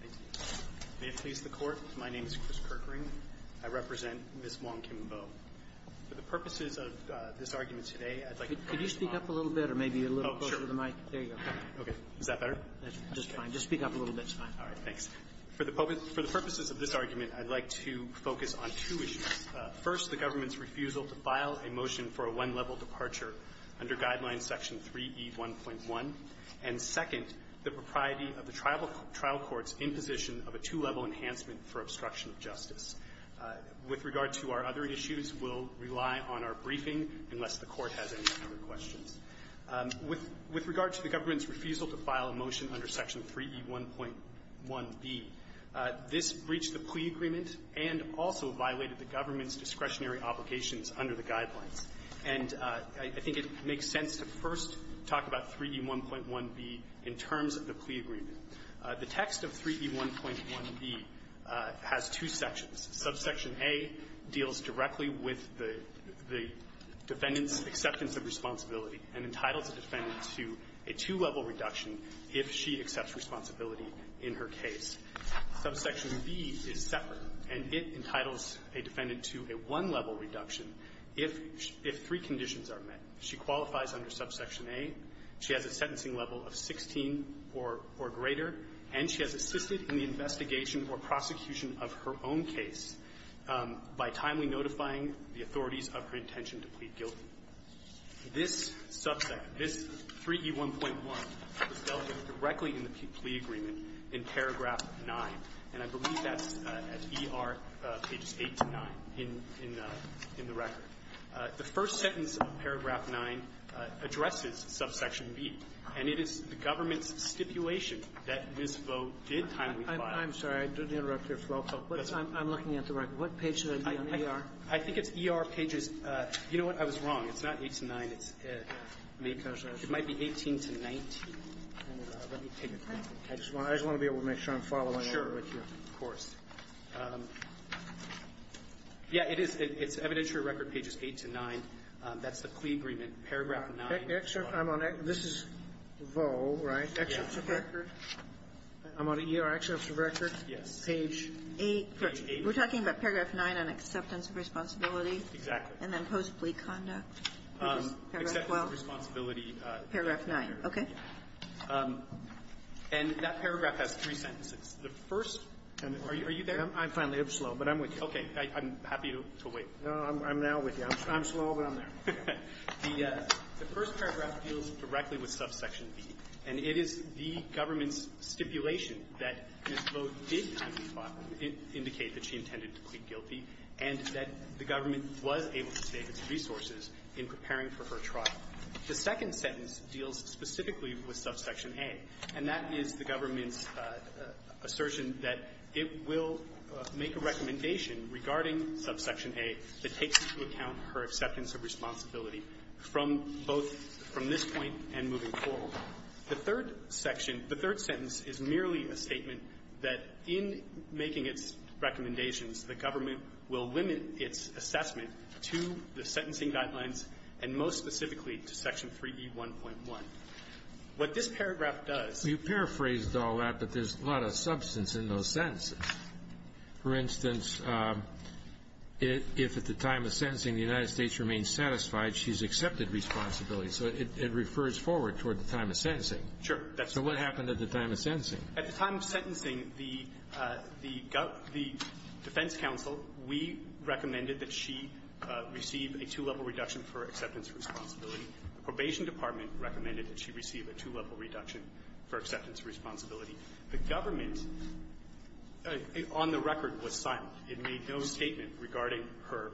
Thank you. May it please the Court, my name is Chris Kirkring. I represent Ms. Wong Kim Vo. For the purposes of this argument today, I'd like to focus on... Could you speak up a little bit or maybe a little closer to the mic? Oh, sure. There you go. Okay. Is that better? That's just fine. Just speak up a little bit. It's fine. All right. Thanks. For the purposes of this argument, I'd like to focus on two issues. First, the government's refusal to file a motion for a one-level departure under Guideline Section 3E1.1. And second, the propriety of the tribal trial courts' imposition of a two-level enhancement for obstruction of justice. With regard to our other issues, we'll rely on our briefing, unless the Court has any other questions. With regard to the government's refusal to file a motion under Section 3E1.1b, this breached the plea agreement and also violated the government's discretionary obligations under the Guidelines. And I think it makes sense to first talk about 3E1.1b in terms of the plea agreement. The text of 3E1.1b has two sections. Subsection A deals directly with the defendant's acceptance of responsibility and entitles a defendant to a two-level reduction if she accepts responsibility in her case. Subsection B is separate, and it entitles a defendant to a one-level reduction if three conditions are met. She qualifies under Subsection A. She has a sentencing level of 16 or greater, and she has assisted in the investigation or prosecution of her own case by timely notifying the authorities of her intention to plead guilty. This subsection, this 3E1.1, was delegated directly in the plea agreement in Paragraph 9, and I believe that's at ER pages 8 to 9 in the record. The first sentence of Paragraph 9 addresses Subsection B, and it is the government's stipulation that Ms. Vaux did timely file. I'm sorry, I didn't interrupt your flow, but I'm looking at the record. What page should I be on, ER? I think it's ER pages. You know what? I was wrong. It's not 8 to 9. It might be 18 to 19. Let me take a look. I just want to be able to make sure I'm following it. Sure. Of course. Yeah. It is. It's evidentiary record pages 8 to 9. That's the plea agreement. Paragraph 9. I'm on it. This is Vaux, right? Yes. I'm on ER excerpts of records. Yes. Page 8. We're talking about Paragraph 9 on acceptance of responsibility. Exactly. And then post-plea conduct. Paragraph 12. Acceptance of responsibility. Paragraph 9. Okay. And that paragraph has three sentences. The first, and are you there? I'm finally up slow, but I'm with you. Okay. I'm happy to wait. No, I'm now with you. I'm slow, but I'm there. The first paragraph deals directly with Subsection B, and it is the government's stipulation that Ms. Vaux did timely file indicate that she intended to plead guilty and that the government was able to save its resources in preparing for her trial. The second sentence deals specifically with Subsection A, and that is the government's assertion that it will make a recommendation regarding Subsection A that takes into account her acceptance of responsibility from both from this point and moving forward. The third section, the third sentence, is merely a statement that in making its recommendations, the government will limit its assessment to the sentencing guidelines and most specifically to Section 3E1.1. What this paragraph does You paraphrased all that, but there's a lot of substance in those sentences. For instance, if at the time of sentencing the United States remains satisfied, she's accepted responsibility. So it refers forward toward the time of sentencing. Sure. So what happened at the time of sentencing? At the time of sentencing, the defense counsel, we recommended that she receive a two-level reduction for acceptance of responsibility. The probation department recommended that she receive a two-level reduction for acceptance of responsibility. The government, on the record, was silent. It made no statement regarding her,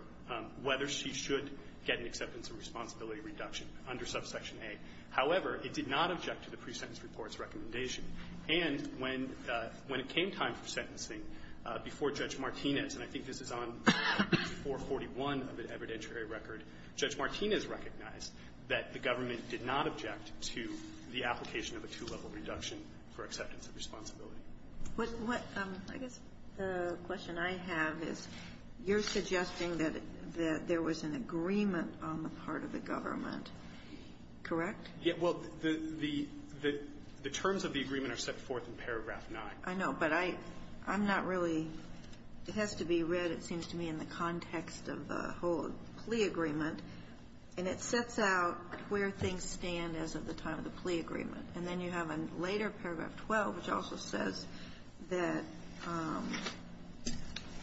whether she should get an acceptance of responsibility reduction under subsection A. However, it did not object to the pre-sentence report's recommendation. And when it came time for sentencing, before Judge Martinez, and I think this is on 441 of the evidentiary record, Judge Martinez recognized that the government did not object to the application of a two-level reduction for acceptance of responsibility. What I guess the question I have is, you're suggesting that there was an agreement on the part of the government, correct? Yeah. Well, the terms of the agreement are set forth in paragraph 9. I know. But I'm not really – it has to be read, it seems to me, in the context of the whole plea agreement. And it sets out where things stand as of the time of the plea agreement. And then you have in later paragraph 12, which also says that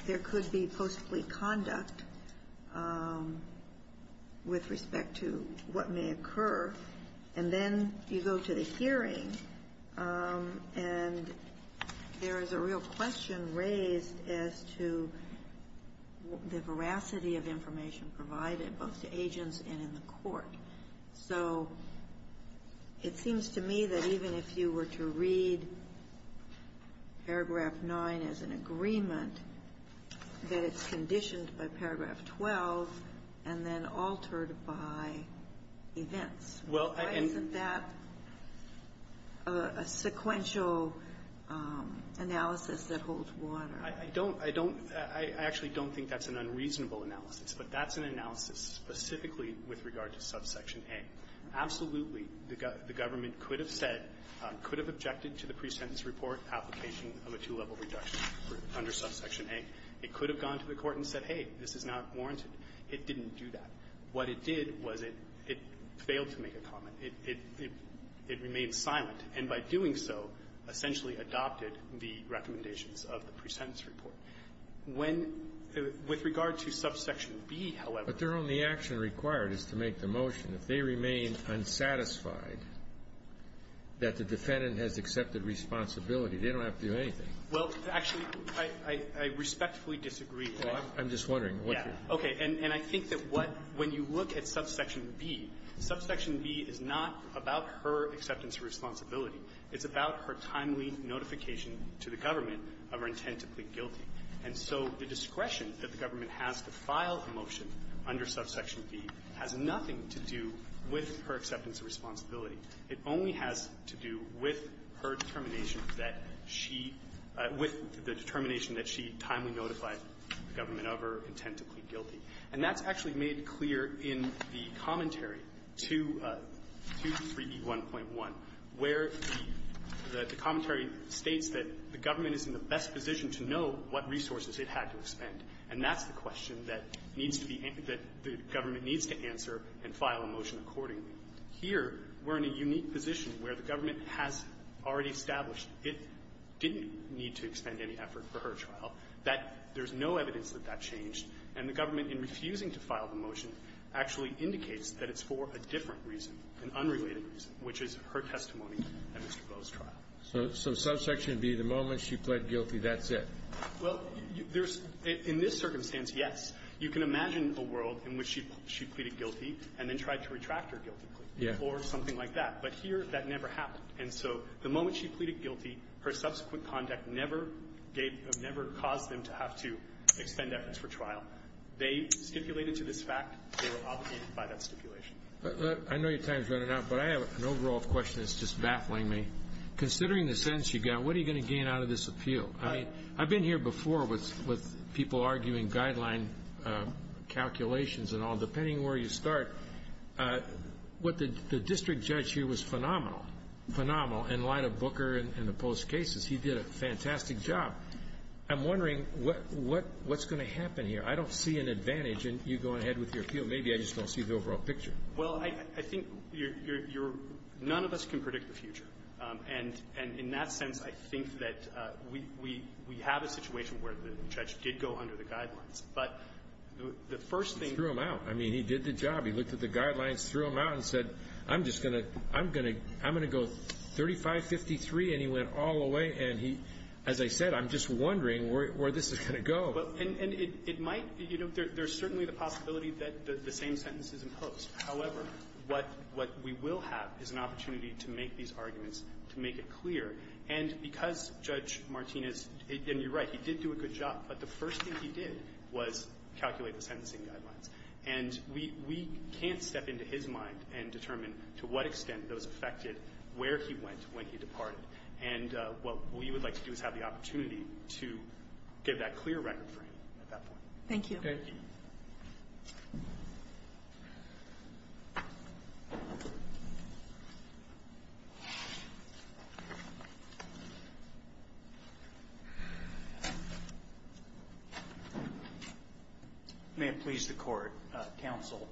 there could be possibly misconduct with respect to what may occur. And then you go to the hearing, and there is a real question raised as to the veracity of information provided, both to agents and in the court. So it seems to me that even if you were to read paragraph 9 as an agreement, that it's conditioned by paragraph 12 and then altered by events. Why isn't that a sequential analysis that holds water? I don't – I don't – I actually don't think that's an unreasonable analysis. But that's an analysis specifically with regard to subsection A. Absolutely, the government could have said, could have objected to the pre-sentence report application of a two-level reduction under subsection A. It could have gone to the court and said, hey, this is not warranted. It didn't do that. What it did was it failed to make a comment. It remained silent. And by doing so, essentially adopted the recommendations of the pre-sentence report. When – with regard to subsection B, however – But their only action required is to make the motion, if they remain unsatisfied that the defendant has accepted responsibility. They don't have to do anything. Well, actually, I respectfully disagree. I'm just wondering. Okay. And I think that what – when you look at subsection B, subsection B is not about her acceptance of responsibility. It's about her timely notification to the government of her intent to plead guilty. And so the discretion that the government has to file a motion under subsection B has nothing to do with her acceptance of responsibility. It only has to do with her determination that she – with the determination that she timely notified the government of her intent to plead guilty. And that's actually made clear in the commentary to 3E1.1, where the commentary states that the government is in the best position to know what resources it had to expend. And that's the question that needs to be – that the government needs to answer and file a motion accordingly. Here, we're in a unique position where the government has already established it didn't need to expend any effort for her trial, that there's no evidence that that changed. And the government, in refusing to file the motion, actually indicates that it's for a different reason, an unrelated reason, which is her testimony at Mr. Bowe's trial. So – so subsection B, the moment she pled guilty, that's it? Well, there's – in this circumstance, yes. You can imagine a world in which she pleaded guilty and then tried to retract her guilty plea. Yeah. Or something like that. But here, that never happened. And so the moment she pleaded guilty, her subsequent conduct never gave – never caused them to have to expend efforts for trial. They stipulated to this fact they were obligated by that stipulation. I know your time is running out, but I have an overall question that's just baffling me. Considering the sentence you got, what are you going to gain out of this appeal? I mean, I've been here before with people arguing guideline calculations and all. Depending where you start, what the district judge here was phenomenal – phenomenal in light of Booker and the Post cases. He did a fantastic job. I'm wondering what's going to happen here. I don't see an advantage in you going ahead with your appeal. Maybe I just don't see the overall picture. Well, I think you're – none of us can predict the future. And in that sense, I think that we have a situation where the judge did go under the guidelines. But the first thing – He threw them out. I mean, he did the job. He looked at the guidelines, threw them out, and said, I'm just going to – I'm going to go 3553, and he went all the way and he – as I said, I'm just wondering where this is going to go. And it might – you know, there's certainly the possibility that the same sentence is imposed. However, what we will have is an opportunity to make these arguments, to make it clear. And because Judge Martinez – and you're right, he did do a good job – but the first thing he did was calculate the sentencing guidelines. And we can't step into his mind and determine to what extent those affected where he went when he departed. And what we would like to do is have the opportunity to give that clear record frame at that point. Thank you. Thank you. May it please the Court, Counsel,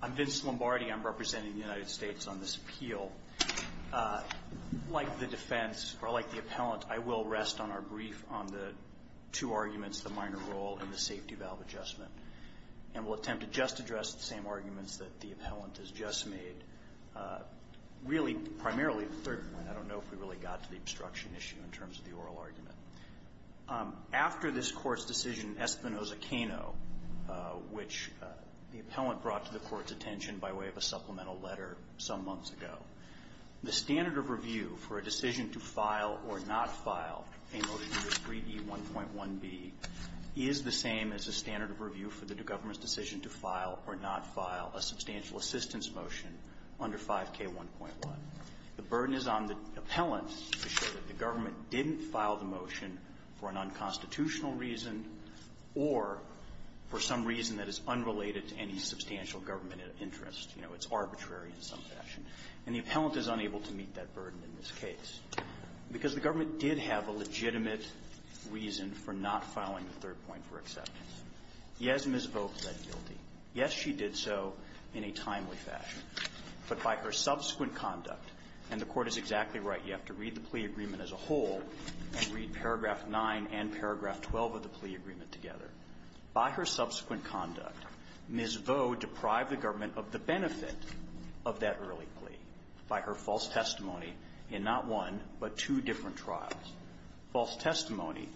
I'm Vince Lombardi. I'm representing the United States on this appeal. Like the defense, or like the appellant, I will rest on our brief on the two arguments, the minor role and the safety valve adjustment. And we'll attempt to just address the same arguments that the appellant has just made, really primarily the third one. I don't know if we really got to the obstruction issue in terms of the oral argument. After this Court's decision, Espinoza-Cano, which the appellant brought to the Court's attention by way of a supplemental letter some months ago, the standard of review for a decision to file or not file a motion to 3D1.1b is the same as the standard of review for the government's decision to file or not file a substantial assistance motion under 5K1.1. The burden is on the appellant to show that the government didn't file the motion for an unconstitutional reason or for some reason that is unrelated to any substantial government interest. You know, it's arbitrary in some fashion. And the appellant is unable to meet that burden in this case because the government did have a legitimate reason for not filing the third point for acceptance. Yes, Ms. Vo fled guilty. Yes, she did so in a timely fashion. But by her subsequent conduct, and the Court is exactly right, you have to read the plea agreement as a whole and read paragraph 9 and paragraph 12 of the plea agreement together. By her subsequent conduct, Ms. Vo deprived the government of the benefit of that early plea by her false testimony in not one but two different trials, false testimony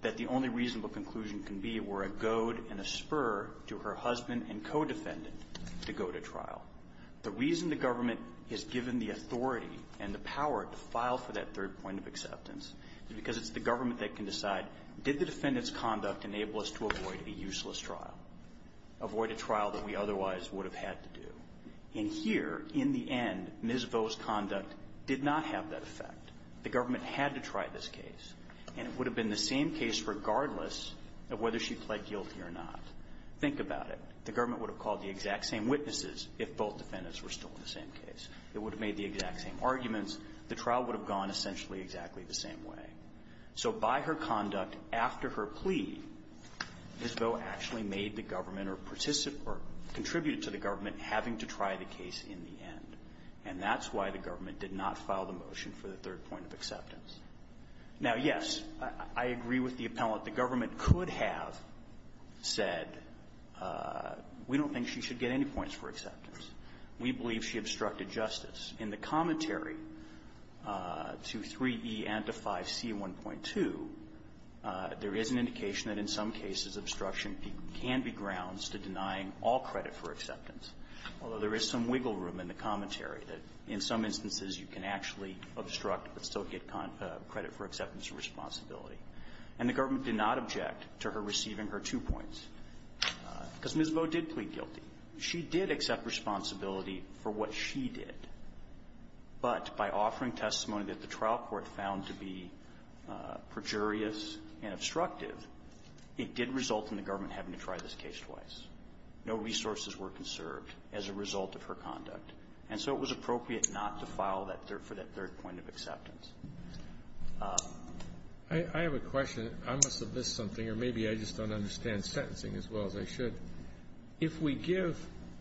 that the only reasonable conclusion can be were a goad and a spur to her husband and co-defendant to go to trial. The reason the government is given the authority and the power to file for that third point of acceptance is because it's the government that can decide, did the defendant's conduct enable us to avoid a useless trial, avoid a trial that we otherwise would have had to do? And here, in the end, Ms. Vo's conduct did not have that effect. The government had to try this case, and it would have been the same case regardless of whether she fled guilty or not. Think about it. The government would have called the exact same witnesses if both defendants were still in the same case. It would have made the exact same arguments. The trial would have gone essentially exactly the same way. So by her conduct, after her plea, Ms. Vo actually made the government or participated or contributed to the government having to try the case in the end. And that's why the government did not file the motion for the third point of acceptance. Now, yes, I agree with the appellant. The government could have said, we don't think she should get any points for acceptance. We believe she obstructed justice. In the commentary to 3E and to 5C1.2, there is an indication that in some cases obstruction can be grounds to denying all credit for acceptance, although there is some wiggle room in the commentary that in some instances you can actually obstruct but still get credit for acceptance or responsibility. And the government did not object to her receiving her two points because Ms. Vo did not feel particularly guilty. She did accept responsibility for what she did. But by offering testimony that the trial court found to be perjurious and obstructive, it did result in the government having to try this case twice. No resources were conserved as a result of her conduct. And so it was appropriate not to file that third for that third point of acceptance. I have a question. I must have missed something, or maybe I just don't understand sentencing as well as I should. If we give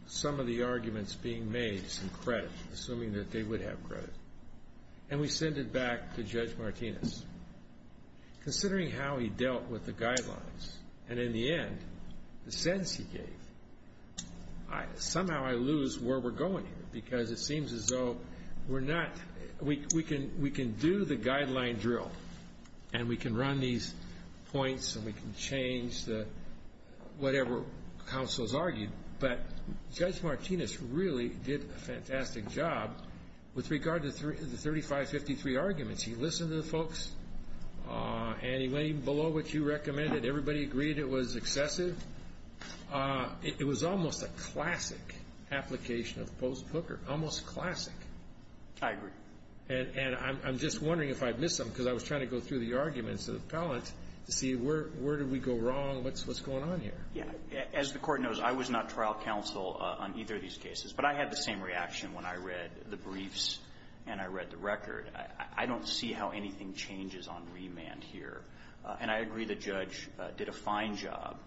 some of the arguments being made some credit, assuming that they would have credit, and we send it back to Judge Martinez, considering how he dealt with the guidelines, and in the end the sentence he gave, somehow I lose where we're going here because it seems as though we're not, we can do the guideline drill, and we can run these points, and we can change whatever counsel's argued, but Judge Martinez really did a fantastic job with regard to the 3553 arguments. He listened to the folks, and he went even below what you recommended. Everybody agreed it was excessive. It was almost a classic application of post-Booker, almost classic. I agree. And I'm just wondering if I missed something, because I was trying to go through the arguments of the appellant to see where did we go wrong, what's going on here. As the Court knows, I was not trial counsel on either of these cases, but I had the same reaction when I read the briefs and I read the record. I don't see how anything changes on remand here. And I agree the judge did a fine job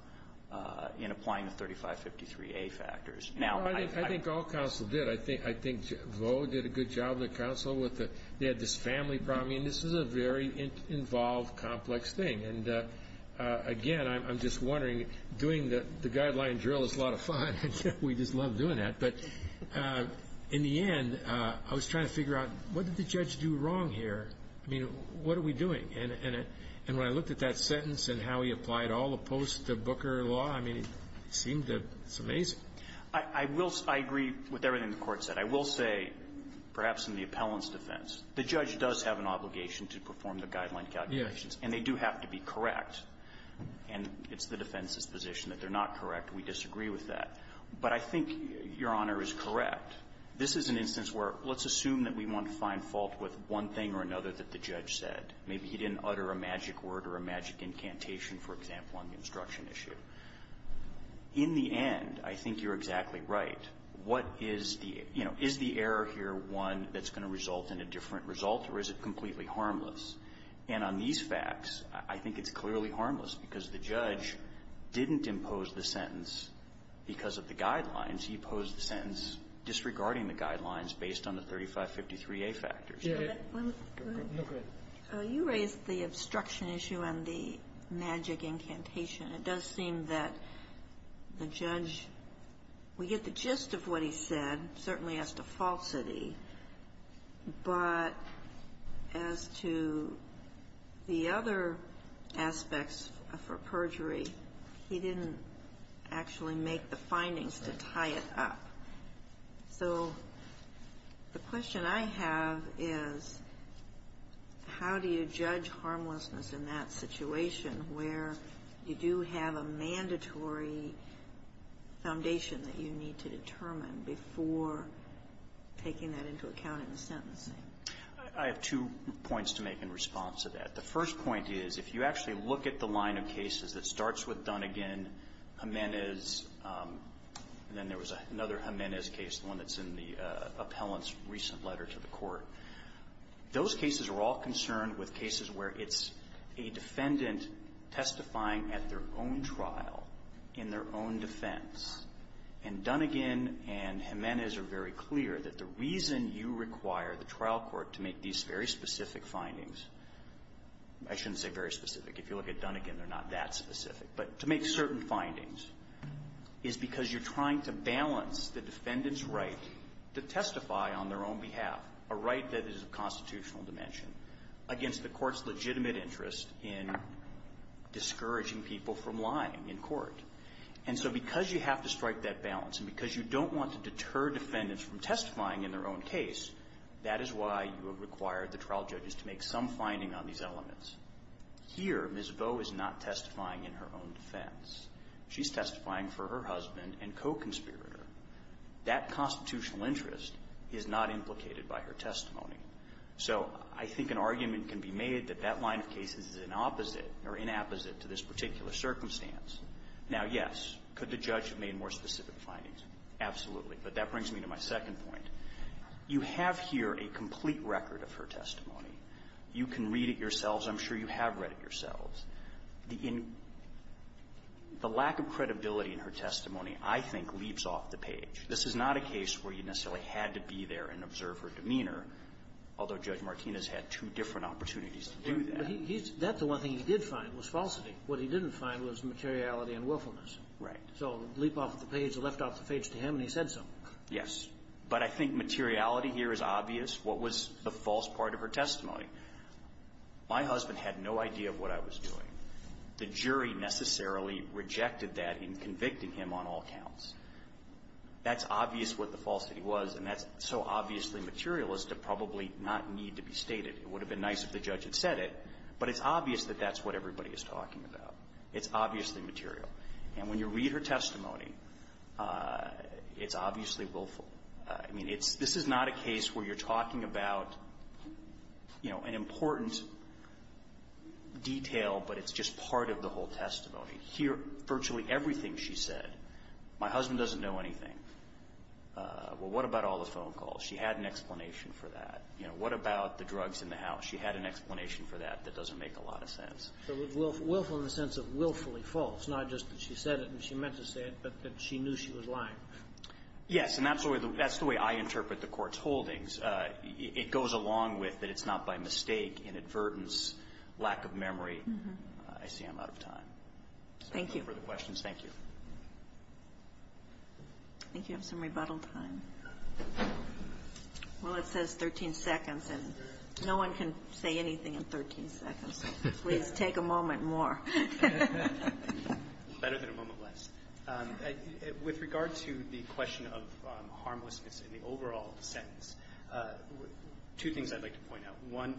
in applying the 3553A factors. I think all counsel did. I think Vo did a good job of the counsel. They had this family problem, and this is a very involved, complex thing. And again, I'm just wondering, doing the guideline drill is a lot of fun. We just love doing that. But in the end, I was trying to figure out what did the judge do wrong here? I mean, what are we doing? And when I looked at that sentence and how he applied all the post-Booker law, I mean, it seemed that it's amazing. I will say, I agree with everything the Court said. I will say, perhaps in the appellant's defense, the judge does have an obligation to perform the guideline calculations. Yes. And they do have to be correct. And it's the defense's position that they're not correct. We disagree with that. But I think Your Honor is correct. This is an instance where let's assume that we want to find fault with one thing or another that the judge said. Maybe he didn't utter a magic word or a magic incantation, for example, on the instruction issue. In the end, I think you're exactly right. What is the, you know, is the error here one that's going to result in a different result, or is it completely harmless? And on these facts, I think it's clearly harmless because the judge didn't impose the sentence because of the guidelines. He imposed the sentence disregarding the guidelines based on the 3553A factors. Go ahead. You raised the obstruction issue and the magic incantation. It does seem that the judge, we get the gist of what he said, certainly as to falsity, but as to the other aspects for perjury, he didn't actually make the findings to tie it up. So the question I have is, how do you judge harmlessness in that situation where you do have a mandatory foundation that you need to determine before taking that into account in the sentencing? I have two points to make in response to that. The first point is, if you actually look at the line of cases that starts with one that's in the appellant's recent letter to the court, those cases are all concerned with cases where it's a defendant testifying at their own trial in their own defense. And Dunnegan and Jimenez are very clear that the reason you require the trial court to make these very specific findings, I shouldn't say very specific. If you look at Dunnegan, they're not that specific. But to make certain findings is because you're trying to balance the defendant's right to testify on their own behalf, a right that is of constitutional dimension, against the court's legitimate interest in discouraging people from lying in court. And so because you have to strike that balance and because you don't want to deter defendants from testifying in their own case, that is why you would require the trial judges to make some finding on these elements. Here, Ms. Bowe is not testifying in her own defense. She's testifying for her husband and co-conspirator. That constitutional interest is not implicated by her testimony. So I think an argument can be made that that line of cases is an opposite or inapposite to this particular circumstance. Now, yes, could the judge have made more specific findings? Absolutely. But that brings me to my second point. You have here a complete record of her testimony. You can read it yourselves. I'm sure you have read it yourselves. The lack of credibility in her testimony, I think, leaps off the page. This is not a case where you necessarily had to be there and observe her demeanor, although Judge Martinez had two different opportunities to do that. Kagan. But that's the one thing he did find was falsity. What he didn't find was materiality and willfulness. Right. So leap off the page, left off the page to him, and he said so. Yes. But I think materiality here is obvious. What was the false part of her testimony? My husband had no idea of what I was doing. The jury necessarily rejected that in convicting him on all counts. That's obvious what the falsity was, and that's so obviously materialist, it probably not need to be stated. It would have been nice if the judge had said it, but it's obvious that that's what everybody is talking about. It's obviously material. And when you read her testimony, it's obviously willful. I mean, it's this is not a case where you're talking about, you know, an important detail, but it's just part of the whole testimony. Here, virtually everything she said, my husband doesn't know anything. Well, what about all the phone calls? She had an explanation for that. You know, what about the drugs in the house? She had an explanation for that that doesn't make a lot of sense. So willful in the sense of willfully false, not just that she said it and she meant to say it, but that she knew she was lying. Yes. And that's the way I interpret the Court's holdings. It goes along with that it's not by mistake, inadvertence, lack of memory. I see I'm out of time. Thank you. Thank you. I think you have some rebuttal time. Well, it says 13 seconds, and no one can say anything in 13 seconds. Please take a moment more. Better than a moment less. With regard to the question of harmlessness in the overall sentence, two things I'd like to point out. One,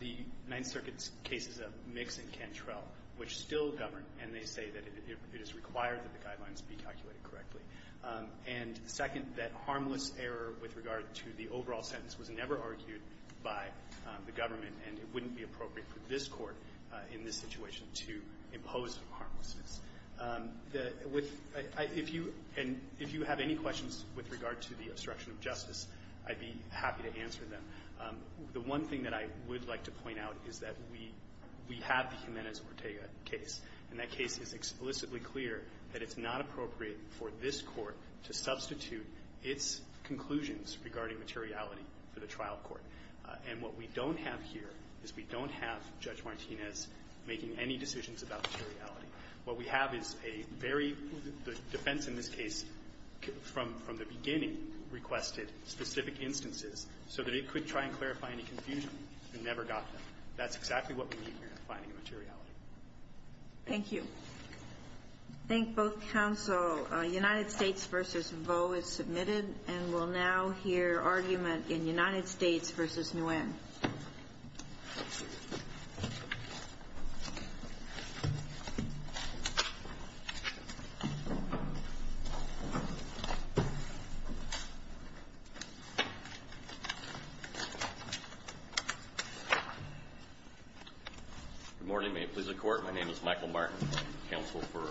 the Ninth Circuit's case is a mix in Cantrell, which still governed, and they say that it is required that the guidelines be calculated correctly. And second, that harmless error with regard to the overall sentence was never argued by the government, and it wouldn't be appropriate for this Court in this situation to impose harmlessness. If you have any questions with regard to the obstruction of justice, I'd be happy to answer them. The one thing that I would like to point out is that we have the Jimenez-Ortega case, and that case is explicitly clear that it's not appropriate for this Court to substitute its conclusions regarding materiality for the trial court. And what we don't have here is we don't have Judge Martinez making any decisions about materiality. What we have is a very – the defense in this case from the beginning requested specific instances so that it could try and clarify any confusion and never got them. That's exactly what we need here in finding materiality. Thank you. I thank both counsel. United States v. Vo is submitted, and we'll now hear argument in United States v. Nguyen. Good morning. May it please the Court. My name is Michael Martin, counsel for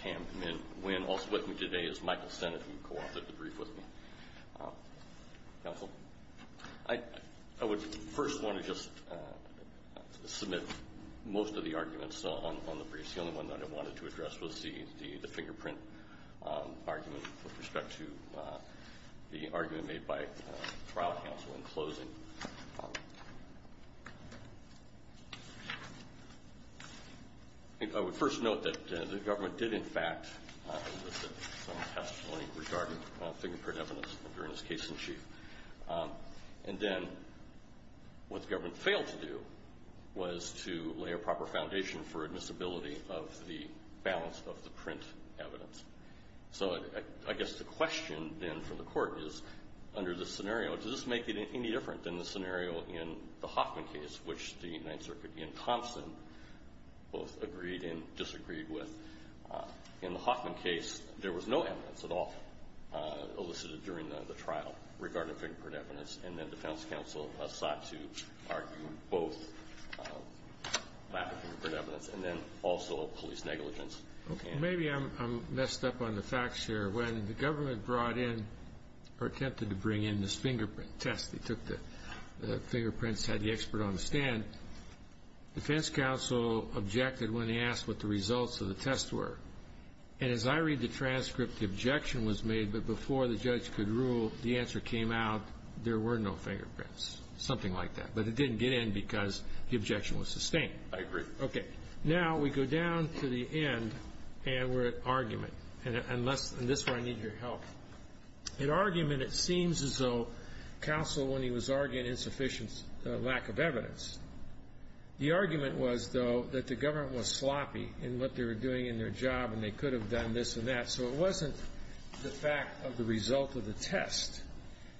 Tam Nguyen. Also with me today is Michael Sennett, who coauthored the brief with me. Counsel, I would first want to just submit most of the arguments on the briefs. The only one that I wanted to address was the fingerprint argument with respect to the argument made by trial counsel in closing. I would first note that the government did, in fact, have some testimony regarding fingerprint evidence during this case in chief. And then what the government failed to do was to lay a proper foundation for admissibility of the balance of the print evidence. So I guess the question then from the Court is, under this scenario, does this make it any different than the scenario in the Hoffman case, which the Ninth Circuit in Thompson both agreed and disagreed with? In the Hoffman case, there was no evidence at all elicited during the trial regarding fingerprint evidence, and then defense counsel sought to argue both lack of fingerprint evidence and then also police negligence. Maybe I'm messed up on the facts here. When the government brought in or attempted to bring in this fingerprint test, they took the fingerprints, had the expert on the stand, defense counsel objected when they asked what the results of the test were. And as I read the transcript, the objection was made, but before the judge could rule, the answer came out, there were no fingerprints, something like that. But it didn't get in because the objection was sustained. I agree. Okay. Now we go down to the end, and we're at argument. And this is where I need your help. In argument, it seems as though counsel, when he was arguing insufficient lack of evidence, the argument was, though, that the government was sloppy in what they were doing in their job, and they could have done this and that. So it wasn't the fact of the result of the test,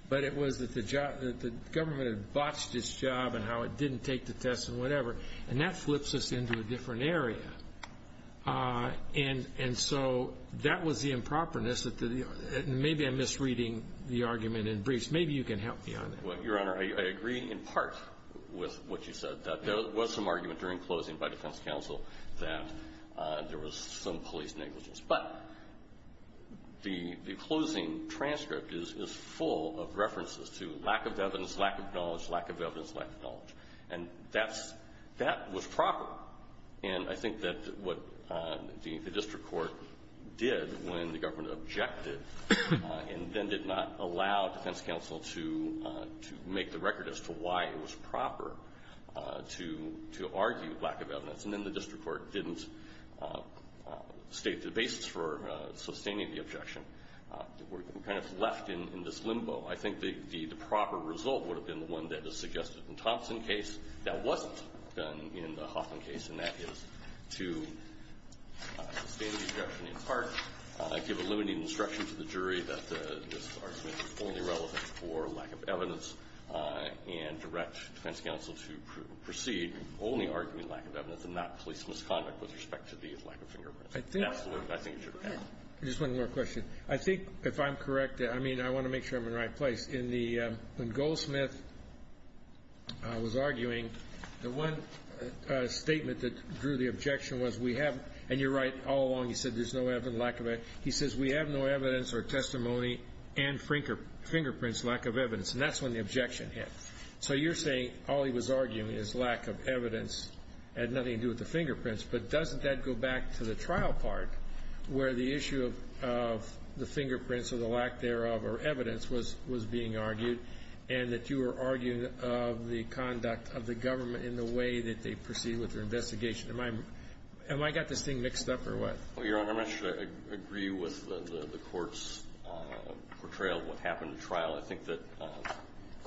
but it was that the government had botched its job and how it didn't take the test and whatever, and that flips us into a different area. And so that was the improperness. Maybe I'm misreading the argument in briefs. Maybe you can help me on that. Well, Your Honor, I agree in part with what you said, that there was some argument during closing by defense counsel that there was some police negligence. But the closing transcript is full of references to lack of evidence, lack of knowledge, lack of evidence, lack of knowledge. And that was proper. And I think that what the district court did when the government objected and then did not allow defense counsel to make the record as to why it was proper to argue lack of evidence, and then the district court didn't state the basis for sustaining the objection. We're kind of left in this limbo. I think the proper result would have been the one that is suggested in Thompson's case. That wasn't done in the Hoffman case, and that is to sustain the objection in part, give a limited instruction to the jury that this argument is only relevant for lack of evidence, and direct defense counsel to proceed only arguing lack of evidence and not police misconduct with respect to the lack of fingerprints. Absolutely, I think it should be. Just one more question. I think, if I'm correct, I mean, I want to make sure I'm in the right place. When Goldsmith was arguing, the one statement that drew the objection was we have, and you're right all along, he said there's no lack of evidence. He says we have no evidence or testimony and fingerprints, lack of evidence, and that's when the objection hit. So you're saying all he was arguing is lack of evidence had nothing to do with the fingerprints, but doesn't that go back to the trial part where the issue of the fingerprints or the lack thereof or evidence was being argued, and that you were arguing of the conduct of the government in the way that they proceed with their investigation? Am I got this thing mixed up or what? Well, Your Honor, I'm not sure I agree with the court's portrayal of what happened in trial. I think that —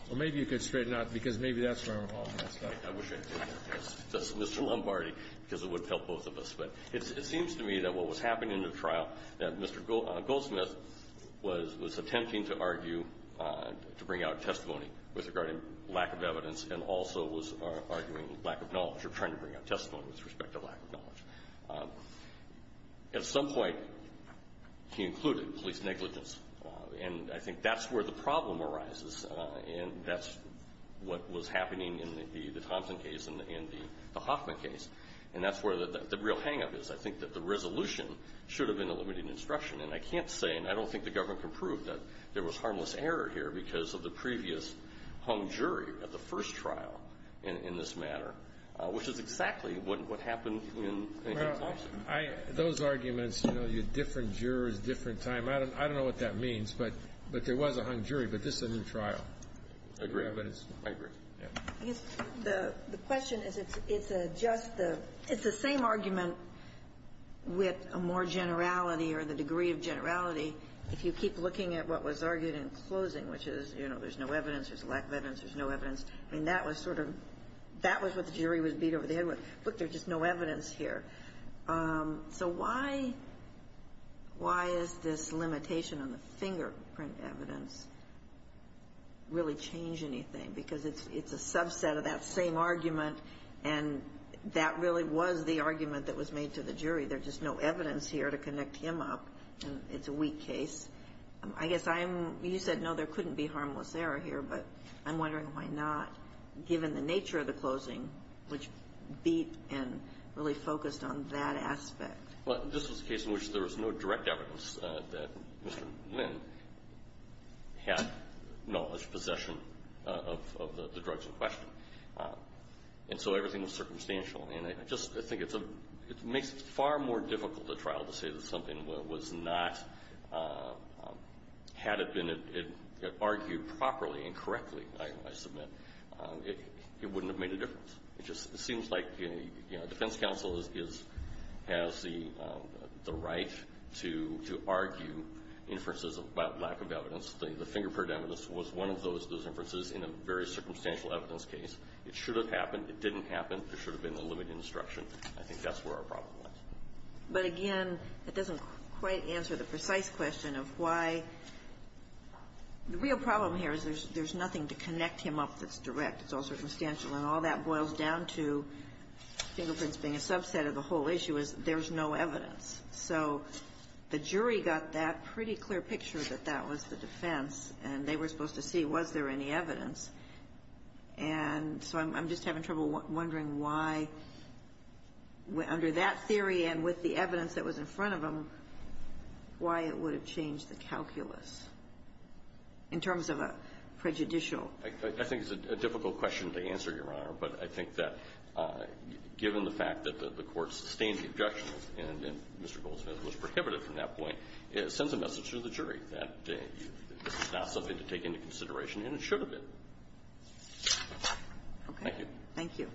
Well, maybe you could straighten out, because maybe that's where I'm all messed up. I wish I could. That's Mr. Lombardi, because it would help both of us. But it seems to me that what was happening in the trial, that Mr. Goldsmith was attempting to argue, to bring out testimony with regard to lack of evidence, and also was arguing lack of knowledge or trying to bring out testimony with respect to lack of knowledge. At some point, he included police negligence, and I think that's where the problem arises, and that's what was happening in the Thompson case and the Hoffman case. And that's where the real hang-up is. I think that the resolution should have been a limited instruction, and I can't say, and I don't think the government can prove, that there was harmless error here because of the previous hung jury at the first trial in this matter, which is exactly what happened in the Thompson. Those arguments, you know, different jurors, different time. I don't know what that means, but there was a hung jury, but this is a new trial. I agree. I agree. I guess the question is, it's just the – it's the same argument with a more generality or the degree of generality if you keep looking at what was argued in closing, which is, you know, there's no evidence, there's lack of evidence, there's no evidence. I mean, that was sort of – that was what the jury was beat over the head with. Look, there's just no evidence here. So why – why is this limitation on the fingerprint evidence really change anything? Because it's a subset of that same argument, and that really was the argument that was made to the jury. There's just no evidence here to connect him up, and it's a weak case. I guess I'm – you said, no, there couldn't be harmless error here, but I'm wondering why not, given the nature of the closing, which beat and really focused on that aspect. Well, this was a case in which there was no direct evidence that Mr. Nguyen had knowledge, possession of the drugs in question. And so everything was circumstantial. And I just – I think it's a – it makes it far more difficult at trial to say that something was not – had it been argued properly and correctly, I submit, it wouldn't have made a difference. It just seems like, you know, defense counsel is – has the right to argue inferences about lack of evidence. The fingerprint evidence was one of those inferences in a very circumstantial evidence case. It should have happened. It didn't happen. There should have been a limited instruction. I think that's where our problem was. But again, it doesn't quite answer the precise question of why – the real problem here is there's nothing to connect him up that's direct. It's all circumstantial. And all that boils down to fingerprints being a subset of the whole issue is there's no evidence. So the jury got that pretty clear picture that that was the defense, and they were supposed to see was there any evidence. And so I'm just having trouble wondering why, under that theory and with the evidence that was in front of them, why it would have changed the calculus in terms of a prejudicial – I think it's a difficult question to answer, Your Honor. But I think that, given the fact that the Court sustained objections and Mr. Goldsmith was prohibited from that point, it sends a message to the jury that this is not something to take into consideration, and it should have been. Thank you. Thank you.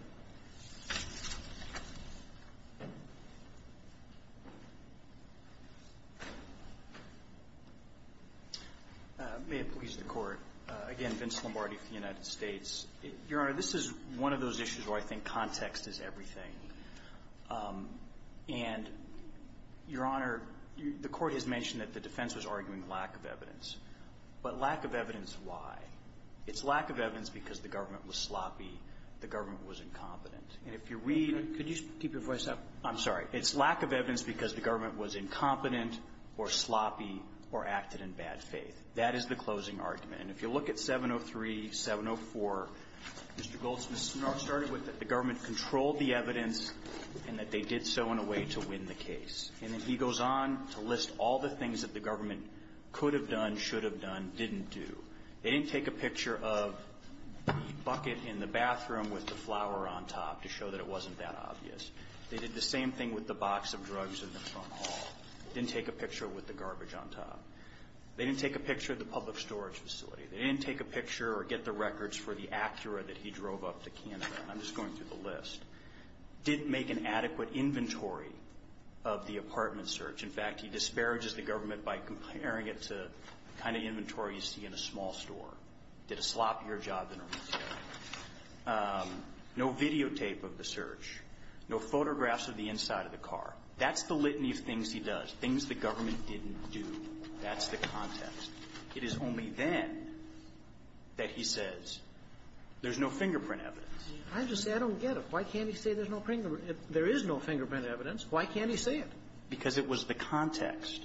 May it please the Court. Again, Vince Lombardi from the United States. Your Honor, this is one of those issues where I think context is everything. And, Your Honor, the Court has mentioned that the defense was arguing lack of evidence. But lack of evidence why? It's lack of evidence because the government was sloppy. The government was incompetent. And if you read – Could you keep your voice up? I'm sorry. It's lack of evidence because the government was incompetent or sloppy or acted in bad faith. That is the closing argument. And if you look at 703, 704, Mr. Goldsmith started with that the government controlled the evidence and that they did so in a way to win the case. And then he goes on to list all the things that the government could have done, should have done, didn't do. They didn't take a picture of the bucket in the bathroom with the flower on top to show that it wasn't that obvious. They did the same thing with the box of drugs in the front hall. They didn't take a picture with the garbage on top. They didn't take a picture of the public storage facility. They didn't take a picture or get the records for the Acura that he drove up to Canada. I'm just going through the list. Didn't make an adequate inventory of the apartment search. In fact, he disparages the government by comparing it to the kind of inventory you see in a small store. Did a sloppier job than a retailer. No videotape of the search. No photographs of the inside of the car. That's the litany of things he does, things the government didn't do. That's the context. It is only then that he says there's no fingerprint evidence. I just say I don't get it. Why can't he say there's no fingerprint? If there is no fingerprint evidence, why can't he say it? Because it was the context.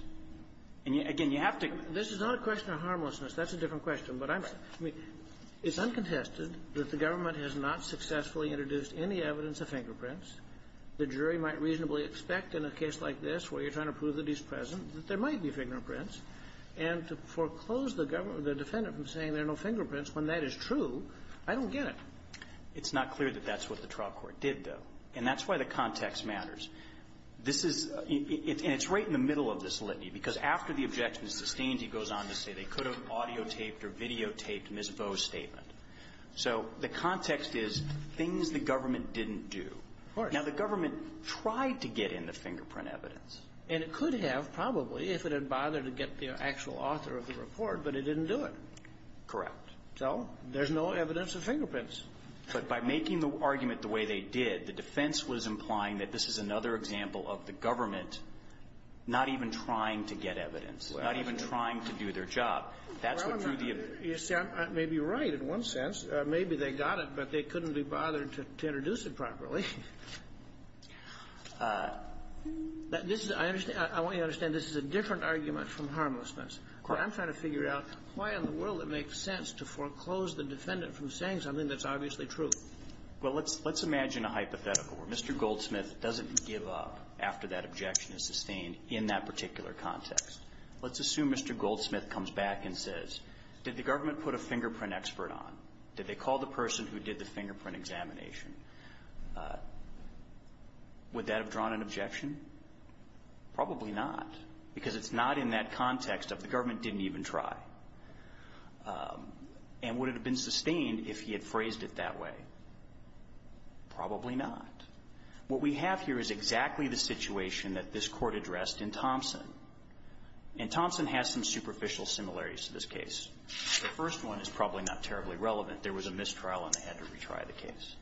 And, again, you have to go to the court. This is not a question of harmlessness. That's a different question. But I mean, it's uncontested that the government has not successfully introduced any evidence of fingerprints. The jury might reasonably expect in a case like this where you're trying to prove that he's present that there might be fingerprints. And to foreclose the government or the defendant from saying there are no fingerprints when that is true, I don't get it. It's not clear that that's what the trial court did, though. And that's why the context matters. This is – and it's right in the middle of this litany. Because after the objection is sustained, he goes on to say they could have audio taped or videotaped Ms. Vo's statement. So the context is things the government didn't do. Of course. Now, the government tried to get in the fingerprint evidence. And it could have, probably, if it had bothered to get the actual author of the report, but it didn't do it. Correct. So there's no evidence of fingerprints. But by making the argument the way they did, the defense was implying that this is another example of the government not even trying to get evidence, not even trying to do their job. That's what drew the objection. Well, you see, maybe you're right in one sense. Maybe they got it, but they couldn't be bothered to introduce it properly. This is – I understand – I want you to understand this is a different argument from harmlessness. Of course. But I'm trying to figure out why in the world it makes sense to foreclose the defendant from saying something that's obviously true. Well, let's imagine a hypothetical where Mr. Goldsmith doesn't give up after that objection is sustained in that particular context. Let's assume Mr. Goldsmith comes back and says, did the government put a fingerprint expert on? Did they call the person who did the fingerprint examination? Would that have drawn an objection? Probably not, because it's not in that context of the government didn't even try. And would it have been sustained if he had phrased it that way? Probably not. What we have here is exactly the situation that this Court addressed in Thompson. And Thompson has some superficial similarities to this case. The first one is probably not terribly relevant. There was a mistrial and they had to retry the case.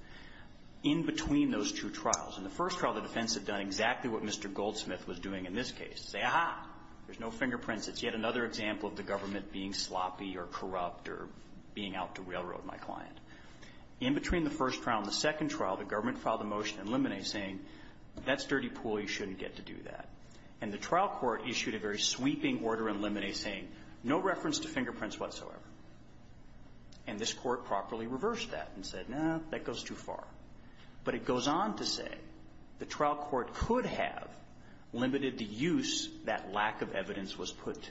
In between those two trials, in the first trial, the defense had done exactly what Mr. Goldsmith was doing in this case, say, aha, there's no fingerprints. It's yet another example of the government being sloppy or corrupt or being out to railroad my client. In between the first trial and the second trial, the government filed a motion in limine saying, that's dirty pool. You shouldn't get to do that. And the trial court issued a very sweeping order in limine saying, no reference to fingerprints whatsoever. And this Court properly reversed that and said, no, that goes too far. But it goes on to say the trial court could have limited the use that lack of evidence was put to.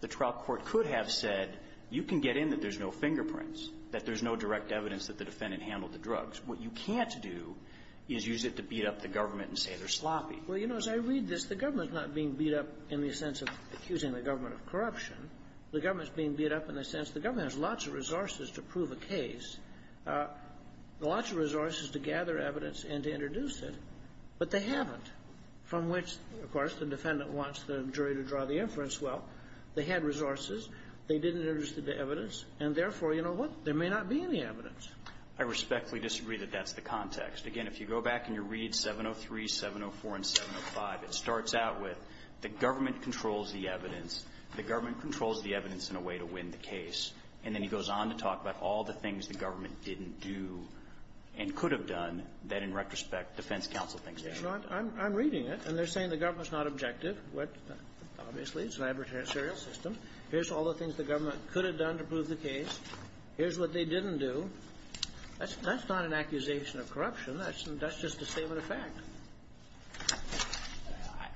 The trial court could have said, you can get in that there's no fingerprints, that there's no direct evidence that the defendant handled the drugs. What you can't do is use it to beat up the government and say they're sloppy. Well, you know, as I read this, the government's not being beat up in the sense of accusing the government of corruption. The government's being beat up in the sense the government has lots of resources to prove a case, lots of resources to gather evidence and to introduce it. But they haven't. From which, of course, the defendant wants the jury to draw the inference, well, they had resources. They didn't introduce the evidence. And therefore, you know what? There may not be any evidence. I respectfully disagree that that's the context. Again, if you go back and you read 703, 704, and 705, it starts out with the government controls the evidence. The government controls the evidence in a way to win the case. And then he goes on to talk about all the things the government didn't do and could have done that, in retrospect, defense counsel thinks they should have done. I'm reading it, and they're saying the government's not objective. Obviously, it's an adversarial system. Here's all the things the government could have done to prove the case. Here's what they didn't do. That's not an accusation of corruption. That's just a statement of fact.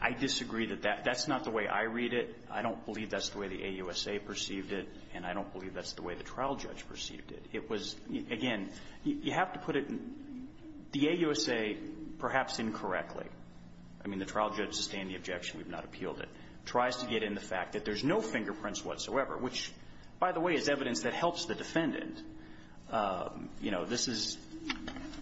I disagree that that's not the way I read it. I don't believe that's the way the AUSA perceived it, and I don't believe that's the way the trial judge perceived it. It was, again, you have to put it in the AUSA perhaps incorrectly. I mean, the trial judge sustained the objection. We've not appealed it. Tries to get in the fact that there's no fingerprints whatsoever, which, by the way, is evidence that helps the defendant. You know, this is,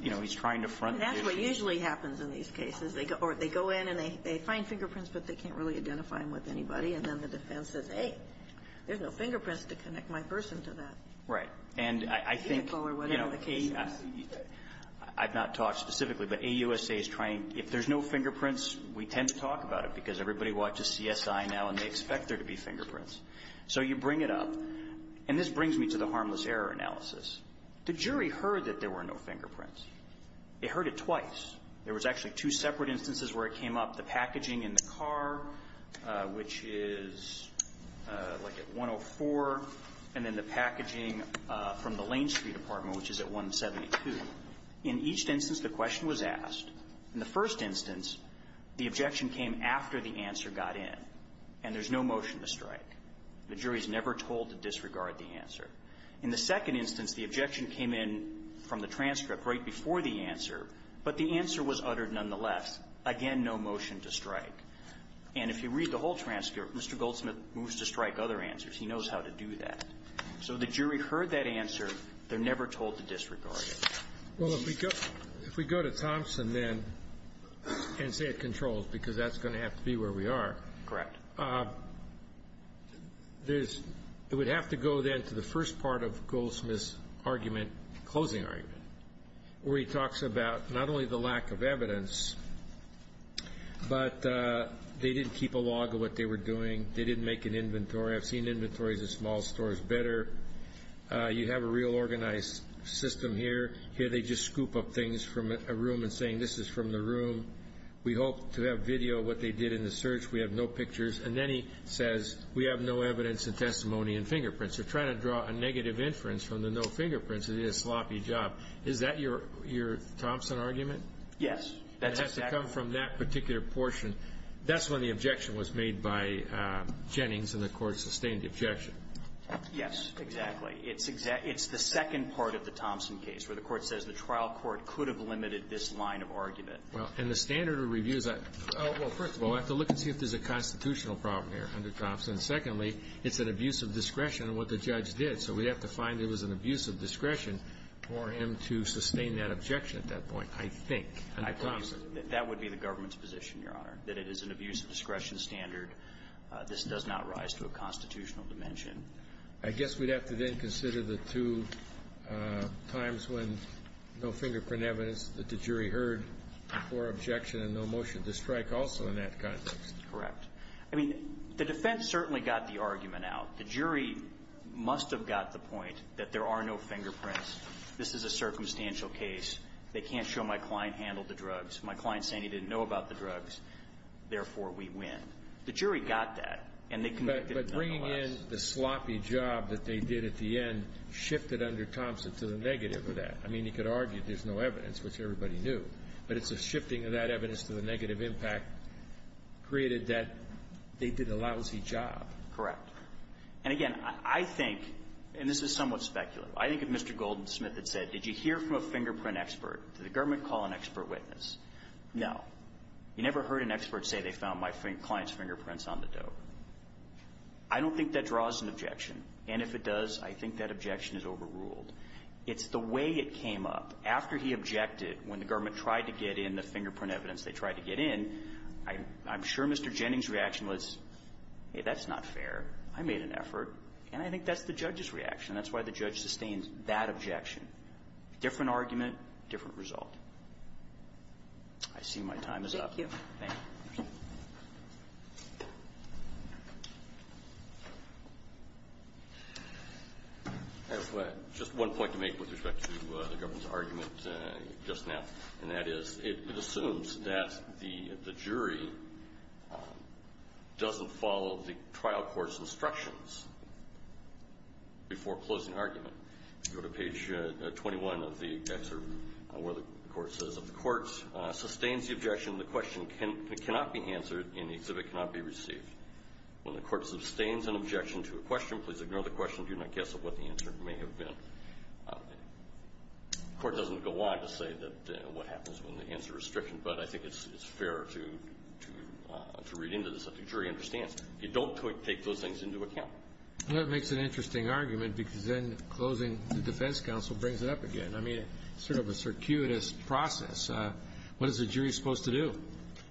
you know, he's trying to front the judge. That's what usually happens in these cases. They go in and they find fingerprints, but they can't really identify them with anybody. And then the defense says, hey, there's no fingerprints to connect my person to that. And I think, you know, I've not talked specifically, but AUSA is trying, if there's no fingerprints, we tend to talk about it because everybody watches CSI now and they expect there to be fingerprints. So you bring it up. And this brings me to the harmless error analysis. The jury heard that there were no fingerprints. They heard it twice. There was actually two separate instances where it came up, the packaging in the car, which is like at 104, and then the packaging from the Lane Street apartment, which is at 172. In each instance, the question was asked. In the first instance, the objection came after the answer got in, and there's no motion to strike. The jury is never told to disregard the answer. In the second instance, the objection came in from the transcript right before the answer, but the answer was uttered nonetheless. Again, no motion to strike. And if you read the whole transcript, Mr. Goldsmith moves to strike other answers. He knows how to do that. So the jury heard that answer. They're never told to disregard it. Well, if we go to Thompson, then, and say it controls, because that's going to have to be where we are. Correct. There's – it would have to go, then, to the first part of Goldsmith's argument, closing argument, where he talks about not only the lack of evidence, but they didn't keep a log of what they were doing. They didn't make an inventory. I've seen inventories of small stores better. You have a real organized system here. Here they just scoop up things from a room and saying, this is from the room. We hope to have video of what they did in the search. We have no pictures. And then he says, we have no evidence and testimony and fingerprints. They're trying to draw a negative inference from the no fingerprints. They did a sloppy job. Is that your Thompson argument? Yes. That has to come from that particular portion. That's when the objection was made by Jennings, and the Court sustained the objection. Yes, exactly. It's the second part of the Thompson case, where the Court says the trial court could have limited this line of argument. Well, and the standard of review is that, well, first of all, I have to look and see if there's a constitutional problem here under Thompson. Secondly, it's an abuse of discretion in what the judge did. So we have to find there was an abuse of discretion for him to sustain that objection at that point, I think, under Thompson. That would be the government's position, Your Honor, that it is an abuse of discretion standard. This does not rise to a constitutional dimension. I guess we'd have to then consider the two times when no fingerprint evidence that the jury heard for objection and no motion to strike also in that context. Correct. I mean, the defense certainly got the argument out. The jury must have got the point that there are no fingerprints. This is a circumstantial case. They can't show my client handled the drugs. My client's saying he didn't know about the drugs. Therefore, we win. The jury got that, and they convicted nonetheless. But bringing in the sloppy job that they did at the end shifted under Thompson to the negative of that. I mean, you could argue there's no evidence, which everybody knew, but it's a shifting of that evidence to the negative impact created that they did a lousy job. Correct. And, again, I think, and this is somewhat speculative, I think if Mr. Goldsmith had said, did you hear from a fingerprint expert, did the government call an expert witness? No. You never heard an expert say they found my client's fingerprints on the dope. I don't think that draws an objection. And if it does, I think that objection is overruled. It's the way it came up after he objected when the government tried to get in the fingerprint evidence. They tried to get in. I'm sure Mr. Jennings' reaction was, hey, that's not fair. I made an effort. And I think that's the judge's reaction. That's why the judge sustained that objection. Different argument, different result. I see my time is up. Thank you. Just one point to make with respect to the government's argument just now, and that is it assumes that the jury doesn't follow the trial court's instructions before closing argument. Go to page 21 of the excerpt where the court says, if the court sustains the objection, the question cannot be answered and the exhibit cannot be received. When the court sustains an objection to a question, please ignore the question. Do not guess at what the answer may have been. The court doesn't go on to say what happens when the answer is stricken, but I think it's fair to read into this. The jury understands. You don't take those things into account. Well, that makes an interesting argument because then closing the defense counsel brings it up again. I mean, it's sort of a circuitous process. What is the jury supposed to do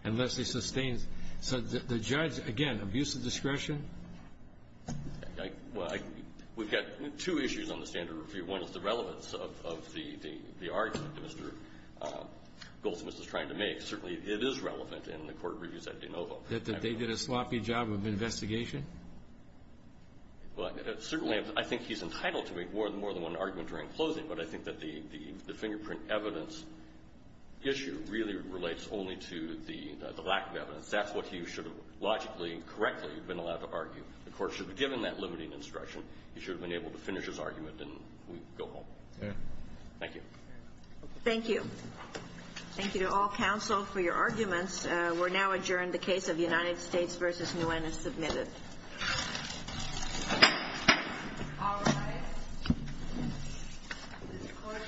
unless they sustain? So the judge, again, abuse of discretion? Well, we've got two issues on the standard review. One is the relevance of the argument that Mr. Goldsmith is trying to make. Certainly it is relevant in the court reviews at de novo. That they did a sloppy job of investigation? Well, certainly I think he's entitled to make more than one argument during closing, but I think that the fingerprint evidence issue really relates only to the lack of evidence. That's what he should have logically and correctly been allowed to argue. The court should have given that limiting instruction. He should have been able to finish his argument and go home. Thank you. Thank you. Thank you to all counsel for your arguments. We're now adjourned. The case of United States v. Nguyen is submitted. All rise. This court is in the second round of hearings. This court is adjourned.